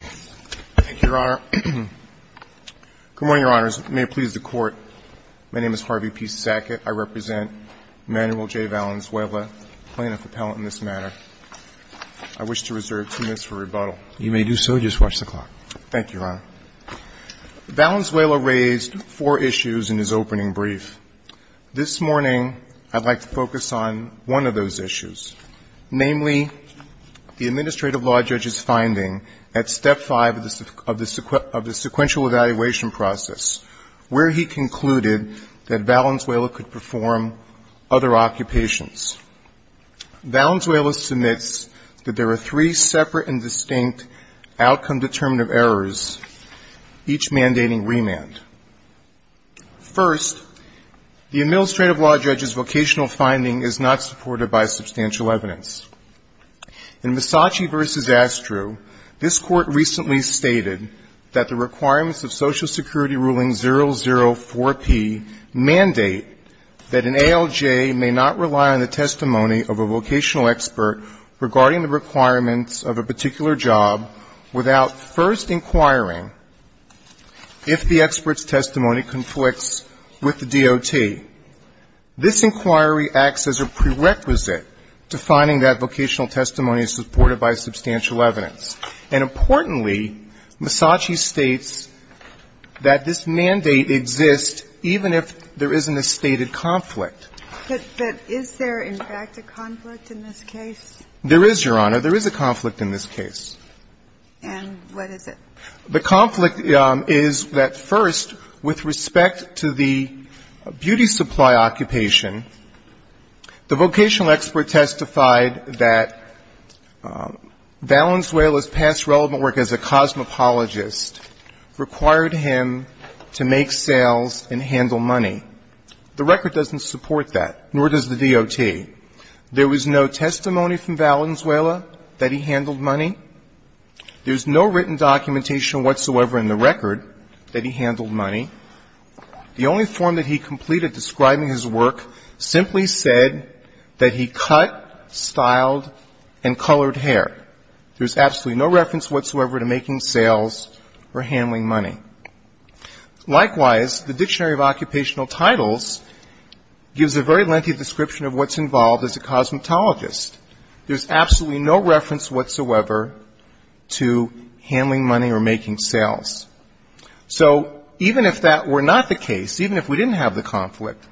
Good morning, Your Honors. May it please the Court, my name is Harvey P. Sackett. I represent Emanuel J. Valenzuela, plaintiff appellant in this matter. I wish to reserve two minutes for rebuttal. You may do so. Just watch the clock. Thank you, Your Honor. Valenzuela raised four issues in his opening brief. This morning, I'd like to focus on one of those issues, namely, the Administrative Law Judge's finding at Step 5 of the sequential evaluation process, where he concluded that Valenzuela could perform other occupations. Valenzuela submits that there are three separate and distinct outcome-determinative errors, each mandating remand. First, the Administrative Law Judge's vocational finding is not supported by substantial evidence. In Misaci v. Astrue, this Court recently stated that the requirements of Social Security Ruling 004P mandate that an ALJ may not rely on the testimony of a vocational expert regarding the requirements of a particular job without first inquiring if the expert's testimony conflicts with the DOT. This inquiry acts as a prerequisite to finding that vocational testimony is supported by substantial evidence. And importantly, Misaci states that this mandate exists even if there isn't a stated conflict. But is there, in fact, a conflict in this case? There is, Your Honor. There is a conflict in this case. And what is it? The conflict is that, first, with respect to the beauty supply occupation, the vocational expert testified that Valenzuela's past relevant work as a cosmopologist required him to make sales and handle money. The record doesn't support that, nor does the DOT. There was no testimony from Valenzuela that he handled money. There's no written documentation whatsoever in the record that he handled money. The only form that he completed describing his work simply said that he cut, styled, and colored hair. There's absolutely no reference whatsoever to making sales or handling money. Likewise, the Dictionary of Occupational Titles gives a very lengthy description of what's involved as a cosmetologist. There's absolutely no reference whatsoever to handling money or making sales. So even if that were not the case, even if we didn't have the conflict,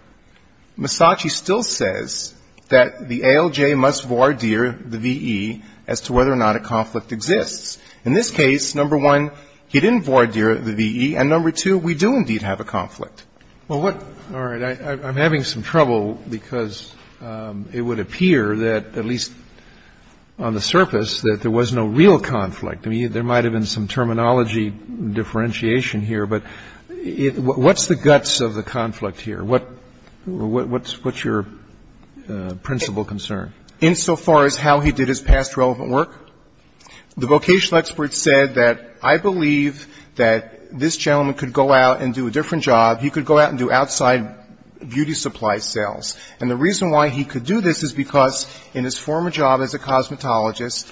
Misaci still says that the ALJ must voir dire the V.E. as to whether or not a conflict exists. In this case, number one, he didn't voir dire the V.E., and, number two, we do indeed have a conflict. Well, what – all right. I'm having some trouble because it would appear that, at least on the surface, that there was no real conflict. I mean, there might have been some terminology differentiation here, but what's the guts of the conflict here? What's your principal concern? Insofar as how he did his past relevant work, the vocational expert said that, I believe that this gentleman could go out and do a different job. He could go out and do outside beauty supply sales. And the reason why he could do this is because in his former job as a cosmetologist,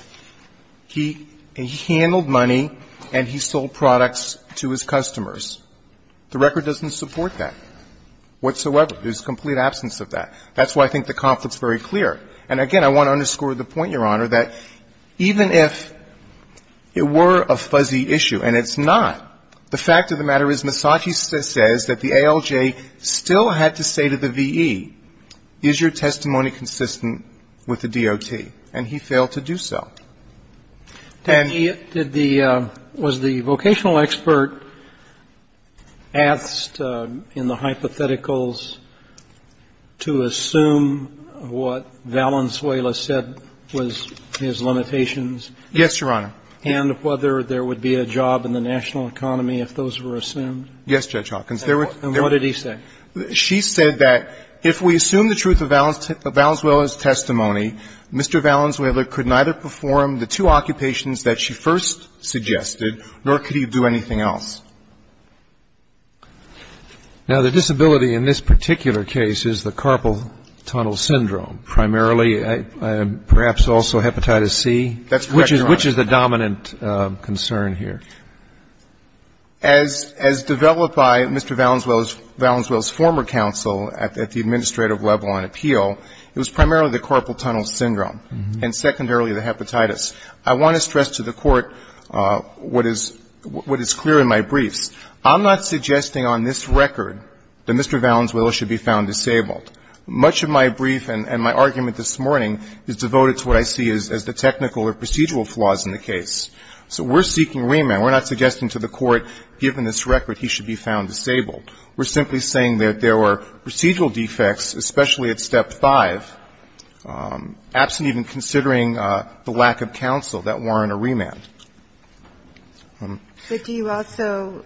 he handled money and he sold products to his customers. The record doesn't support that whatsoever. There's a complete absence of that. That's why I think the conflict's very clear. And, again, I want to underscore the point, Your Honor, that even if it were a fuzzy issue, and it's not, the fact of the matter is Misagi says that the ALJ still had to say to the V.E., is your testimony consistent with the DOT? And he failed to do so. And he did the – was the vocational what Valenzuela said was his limitations? Yes, Your Honor. And whether there would be a job in the national economy if those were assumed? Yes, Judge Hawkins. And what did he say? She said that if we assume the truth of Valenzuela's testimony, Mr. Valenzuela could neither perform the two occupations that she first suggested, nor could he do anything else. Now, the disability in this particular case is the carpal tunnel syndrome. Primarily perhaps also hepatitis C. That's correct, Your Honor. Which is the dominant concern here? As developed by Mr. Valenzuela's former counsel at the administrative level on appeal, it was primarily the carpal tunnel syndrome and secondarily the hepatitis. I want to stress to the Court what is clear in my briefs. I'm not suggesting on this record that Mr. Valenzuela should be found disabled. Much of my brief and my argument this morning is devoted to what I see as the technical or procedural flaws in the case. So we're seeking remand. We're not suggesting to the Court, given this record, he should be found disabled. We're simply saying that there were procedural defects, especially at step five, absent even considering the lack of counsel, that warrant a remand. But do you also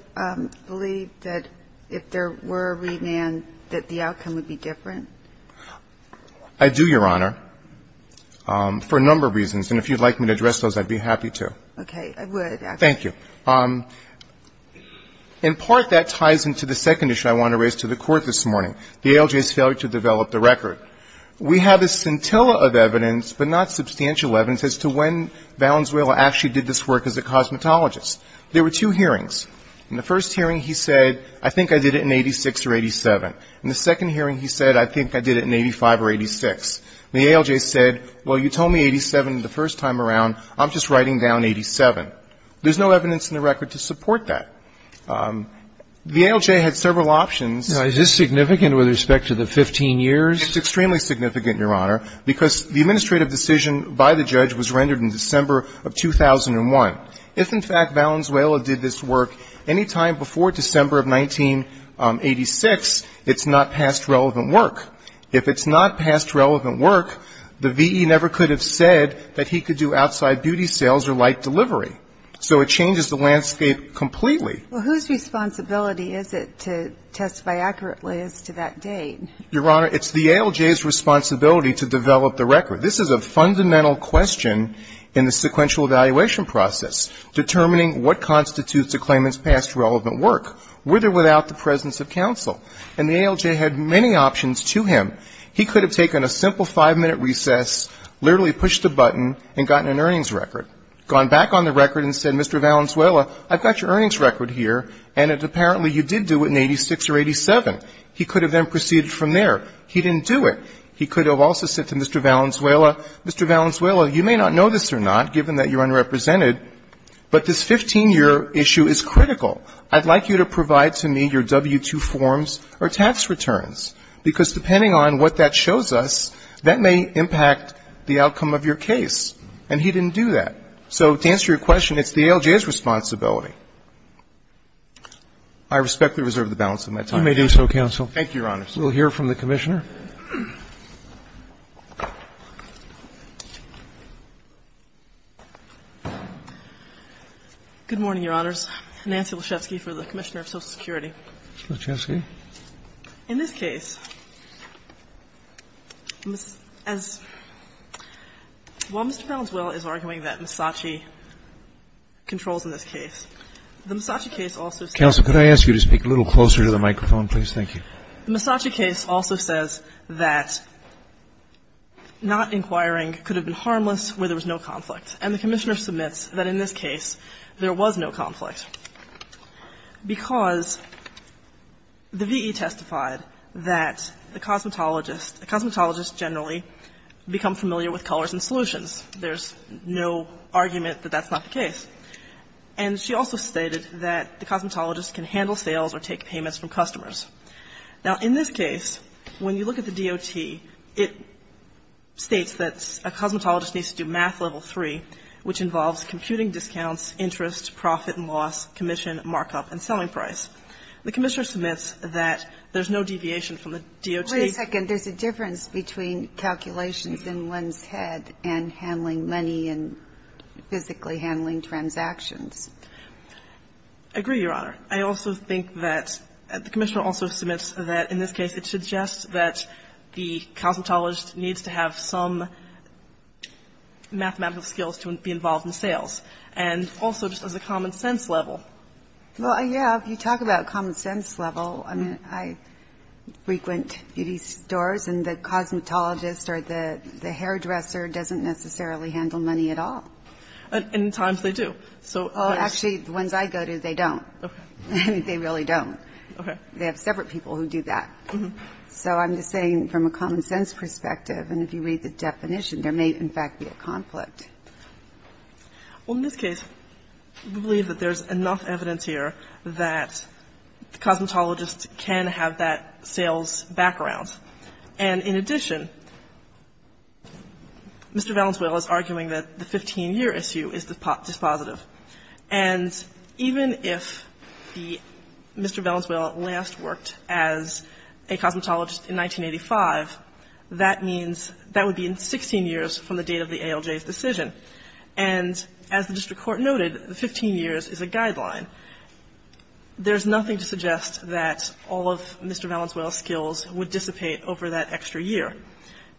believe that if there were a remand, that the outcome would be different? I do, Your Honor, for a number of reasons. And if you'd like me to address those, I'd be happy to. Okay. I would. Thank you. In part, that ties into the second issue I want to raise to the Court this morning, the ALJ's failure to develop the record. We have a scintilla of evidence, but not substantial evidence, as to when Valenzuela actually did this work as a cosmetologist. There were two hearings. In the first hearing he said, I think I did it in 86 or 87. In the second hearing he said, I think I did it in 85 or 86. The ALJ said, well, you told me 87 the first time around. I'm just writing down 87. There's no evidence in the record to support that. The ALJ had several options. Now, is this significant with respect to the 15 years? It's extremely significant, Your Honor, because the administrative decision by the judge was rendered in December of 2001. If, in fact, Valenzuela did this work any time before December of 1986, it's not past relevant work. If it's not past relevant work, the V.E. never could have said that he could do outside beauty sales or light delivery. So it changes the landscape completely. Well, whose responsibility is it to testify accurately as to that date? Your Honor, it's the ALJ's responsibility to develop the record. This is a fundamental question in the sequential evaluation process, determining what constitutes a claimant's past relevant work, with or without the presence of counsel. And the ALJ had many options to him. He could have taken a simple five-minute recess, literally pushed a button and gotten an earnings record, gone back on the record and said, Mr. Valenzuela, I've got your earnings record here, and apparently you did do it in 86 or 87. He could have then proceeded from there. He didn't do it. He could have also said to Mr. Valenzuela, Mr. Valenzuela, you may not know this or not, given that you're unrepresented, but this 15-year issue is critical. I'd like you to provide to me your W-2 forms or tax returns, because depending on what that shows us, that may impact the outcome of your case. And he didn't do that. So to answer your question, it's the same. I respectfully reserve the balance of my time. Roberts. You may do so, counsel. Thank you, Your Honors. We'll hear from the Commissioner. Good morning, Your Honors. Nancy Lachefsky for the Commissioner of Social Security. Lachefsky. In this case, as Mr. Valenzuela is arguing that Misace controls in this case, the Misace case also says Counsel, could I ask you to speak a little closer to the microphone, please? Thank you. The Misace case also says that not inquiring could have been harmless where there was no conflict. And the Commissioner submits that in this case, there was no conflict, because the V.E. testified that the cosmetologist, a cosmetologist generally become familiar with colors and solutions. There's no argument that that's not the case. And she also states that the cosmetologist can handle sales or take payments from customers. Now, in this case, when you look at the DOT, it states that a cosmetologist needs to do math level 3, which involves computing discounts, interest, profit and loss, commission, markup and selling price. The Commissioner submits that there's no deviation from the DOT. Wait a second. There's a difference between calculations in one's head and handling money and physically handling transactions. I agree, Your Honor. I also think that the Commissioner also submits that in this case, it suggests that the cosmetologist needs to have some mathematical skills to be involved in sales, and also just as a common sense level. Well, yeah, if you talk about common sense level, I mean, I frequent beauty stores, and the cosmetologist or the hairdresser doesn't necessarily handle money at all. And in times they do. Actually, the ones I go to, they don't. I mean, they really don't. Okay. They have separate people who do that. So I'm just saying from a common sense perspective, and if you read the definition, there may, in fact, be a conflict. Well, in this case, we believe that there's enough evidence here that the cosmetologist can have that sales background. And in addition, Mr. Valenzuela is arguing that the 15 years issue is dispositive. And even if the Mr. Valenzuela last worked as a cosmetologist in 1985, that means that would be in 16 years from the date of the ALJ's decision. And as the district court noted, the 15 years is a guideline. There's nothing to suggest that all of Mr. Valenzuela's skills would dissipate over that extra year.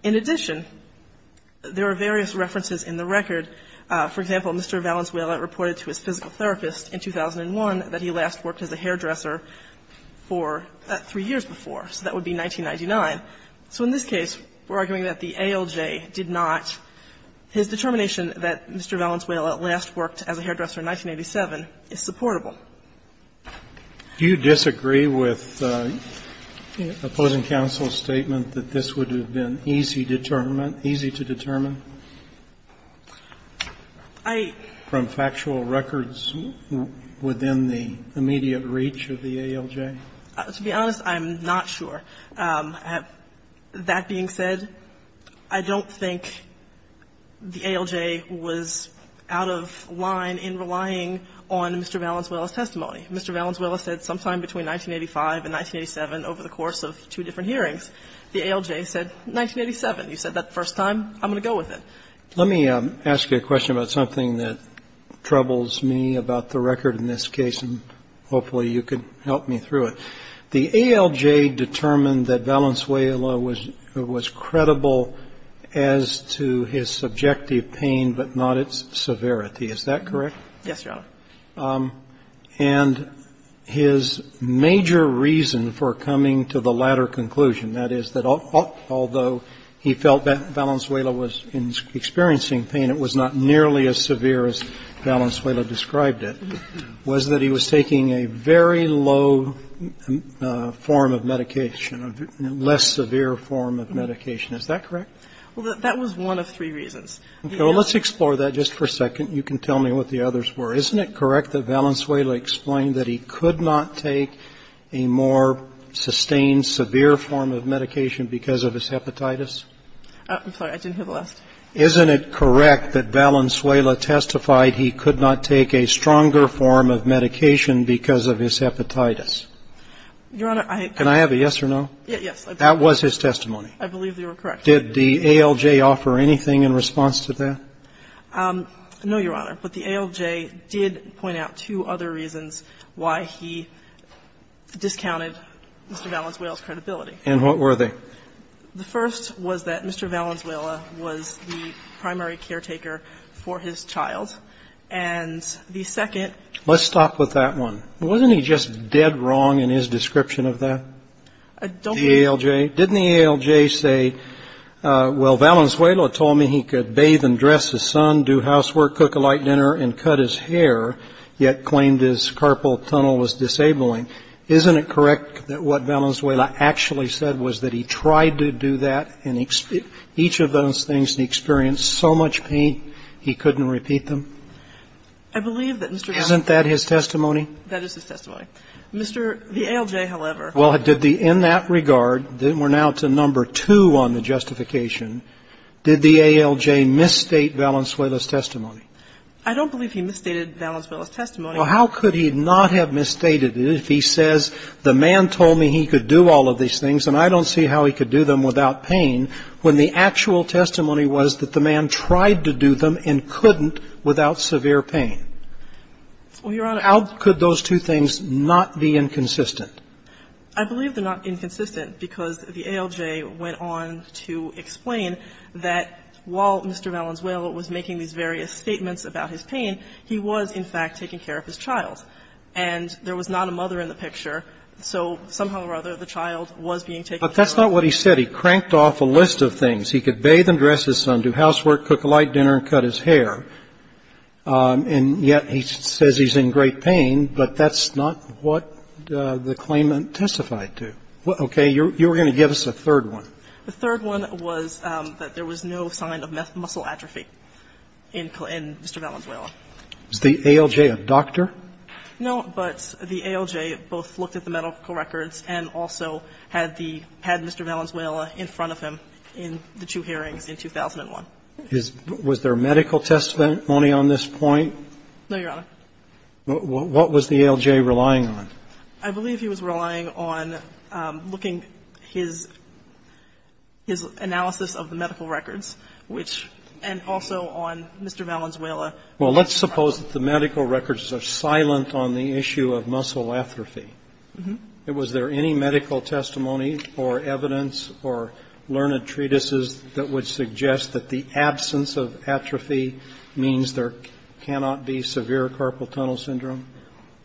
In addition, there are various references in the record. For example, Mr. Valenzuela reported to his physical therapist in 2001 that he last worked as a hairdresser for three years before. So that would be 1999. So in this case, we're arguing that the ALJ did not. His determination that Mr. Valenzuela last worked as a hairdresser in 1987 is supportable. Do you disagree with opposing counsel's statement that this would have been easy to determine, easy to determine from factual records within the immediate reach of the ALJ? To be honest, I'm not sure. That being said, I don't think the ALJ was out of line in relying on Mr. Valenzuela's testimony. Mr. Valenzuela said sometime between 1985 and 1987 over the course of two different hearings. The ALJ said 1987. You said that the first time. I'm going to go with it. Let me ask you a question about something that troubles me about the record in this case, and hopefully you could help me through it. The ALJ determined that Valenzuela was credible as to his subjective pain, but not its severity. Is that correct? Yes, Your Honor. And his major reason for coming to the latter conclusion, that is, that although he felt that Valenzuela was experiencing pain, it was not nearly as severe as Valenzuela described it, was that he was taking a very low form of medication, a less severe form of medication. Is that correct? Well, that was one of three reasons. Okay. Well, let's explore that just for a second. You can tell me what the others were. Isn't it correct that Valenzuela explained that he could not take a more sustained, severe form of medication because of his hepatitis? I'm sorry. I didn't hear the last. Isn't it correct that Valenzuela testified he could not take a stronger form of medication because of his hepatitis? Your Honor, I think that's correct. Can I have a yes or no? Yes. That was his testimony. I believe they were correct. Did the ALJ offer anything in response to that? No, Your Honor. But the ALJ did point out two other reasons why he discounted Mr. Valenzuela's credibility. And what were they? The first was that Mr. Valenzuela was the primary caretaker for his child. And the second. Let's stop with that one. Wasn't he just dead wrong in his description of that, the ALJ? Didn't the ALJ say, well, Valenzuela told me he could bathe and dress his son, do housework, cook a light dinner, and cut his hair, yet claimed his carpal tunnel was disabling? Isn't it correct that what Valenzuela actually said was that he tried to do that and each of those things and experienced so much pain he couldn't repeat them? I believe that Mr. Valenzuela. Isn't that his testimony? That is his testimony. The ALJ, however. Well, in that regard, we're now to number two on the justification. Did the ALJ misstate Valenzuela's testimony? I don't believe he misstated Valenzuela's testimony. Well, how could he not have misstated it if he says the man told me he could do all of these things and I don't see how he could do them without pain when the actual testimony was that the man tried to do them and couldn't without severe pain? Well, Your Honor. How could those two things not be inconsistent? I believe they're not inconsistent because the ALJ went on to explain that while Mr. Valenzuela was making these various statements about his pain, he was in fact taking care of his child, and there was not a mother in the picture, so somehow or other the child was being taken care of. But that's not what he said. He cranked off a list of things. He could bathe and dress his son, do housework, cook a light dinner, and cut his to. Okay. You're going to give us a third one. The third one was that there was no sign of muscle atrophy in Mr. Valenzuela. Is the ALJ a doctor? No, but the ALJ both looked at the medical records and also had the Mr. Valenzuela in front of him in the two hearings in 2001. Was there medical testimony on this point? No, Your Honor. What was the ALJ relying on? I believe he was relying on looking his analysis of the medical records, which and also on Mr. Valenzuela. Well, let's suppose that the medical records are silent on the issue of muscle atrophy. Was there any medical testimony or evidence or learned treatises that would suggest that the absence of atrophy means there cannot be severe carpal tunnel syndrome?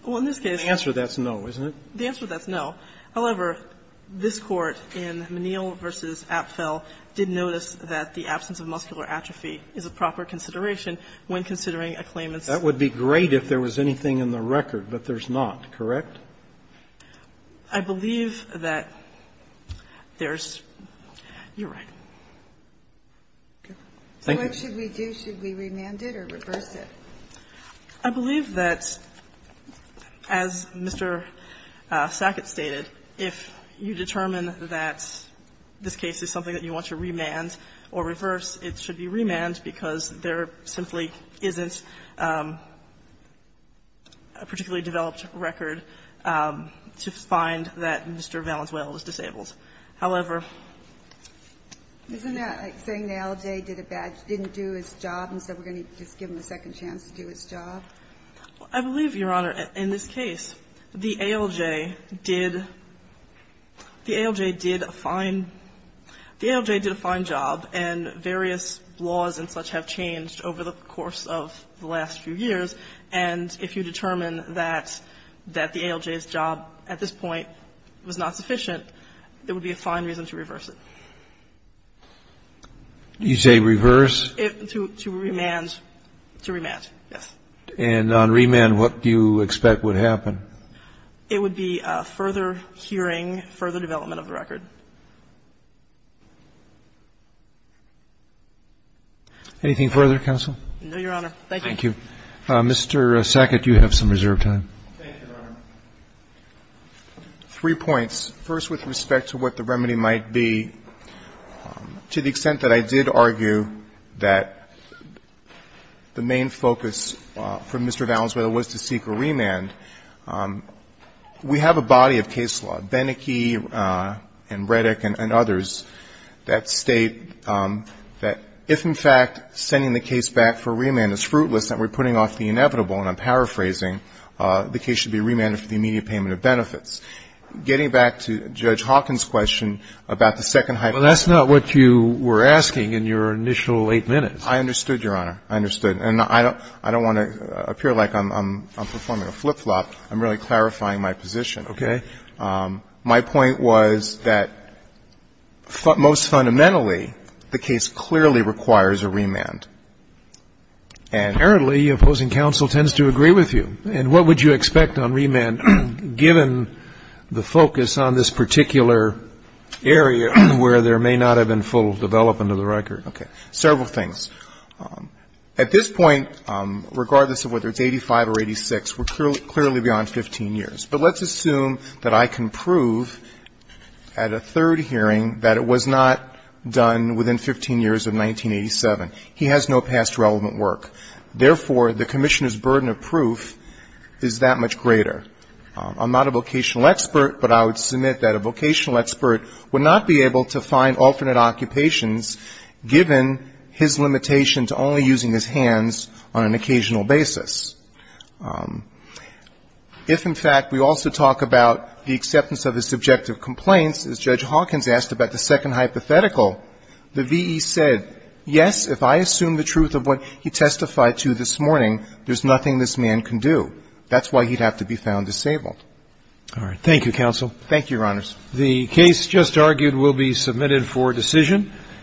Well, in this case the answer to that is no. Isn't it? The answer to that is no. However, this Court in Menil v. Apfel did notice that the absence of muscular atrophy is a proper consideration when considering a claimant's. That would be great if there was anything in the record, but there's not, correct? I believe that there's you're right. Thank you. What should we do? Should we remand it or reverse it? I believe that, as Mr. Sackett stated, if you determine that this case is something that you want to remand or reverse, it should be remanded because there simply isn't a particularly developed record to find that Mr. Valenzuela was disabled. However --" Isn't that like saying the ALJ did a bad job, didn't do its job, and said we're going to give him a second chance to do its job? I believe, Your Honor, in this case the ALJ did a fine job, and various laws and such have changed over the course of the last few years. And if you determine that the ALJ's job at this point was not sufficient, there would be a fine reason to reverse it. You say reverse? To remand. To remand, yes. And on remand, what do you expect would happen? It would be further hearing, further development of the record. Anything further, counsel? No, Your Honor. Thank you. Thank you. Mr. Sackett, you have some reserved time. Thank you, Your Honor. Three points. First, with respect to what the remedy might be, to the extent that I did argue that the main focus for Mr. Valenzuela was to seek a remand, we have a body of case law, Beneke and Redick and others, that state that if, in fact, sending the case back for remand is fruitless, then we're putting off the inevitable, and I'm paraphrasing, the case should be remanded for the immediate payment of benefits. Getting back to Judge Hawkins' question about the second hyphen. Well, that's not what you were asking in your initial eight minutes. I understood, Your Honor. I understood. And I don't want to appear like I'm performing a flip-flop. I'm really clarifying my position. Okay. My point was that most fundamentally, the case clearly requires a remand. And apparently, opposing counsel tends to agree with you. And what would you expect on remand, given the focus on this particular area where there may not have been full development of the record? Okay. Several things. At this point, regardless of whether it's 85 or 86, we're clearly beyond 15 years. But let's assume that I can prove at a third hearing that it was not done within 15 years of 1987. He has no past relevant work. Therefore, the commissioner's burden of proof is that much greater. I'm not a vocational expert, but I would submit that a vocational expert would not be able to find alternate occupations given his limitation to only using his hands on an occasional basis. If, in fact, we also talk about the acceptance of his subjective complaints, as Judge Hawkins asked about the nothing this man can do. That's why he'd have to be found disabled. All right. Thank you, counsel. Thank you, Your Honors. The case just argued will be submitted for decision.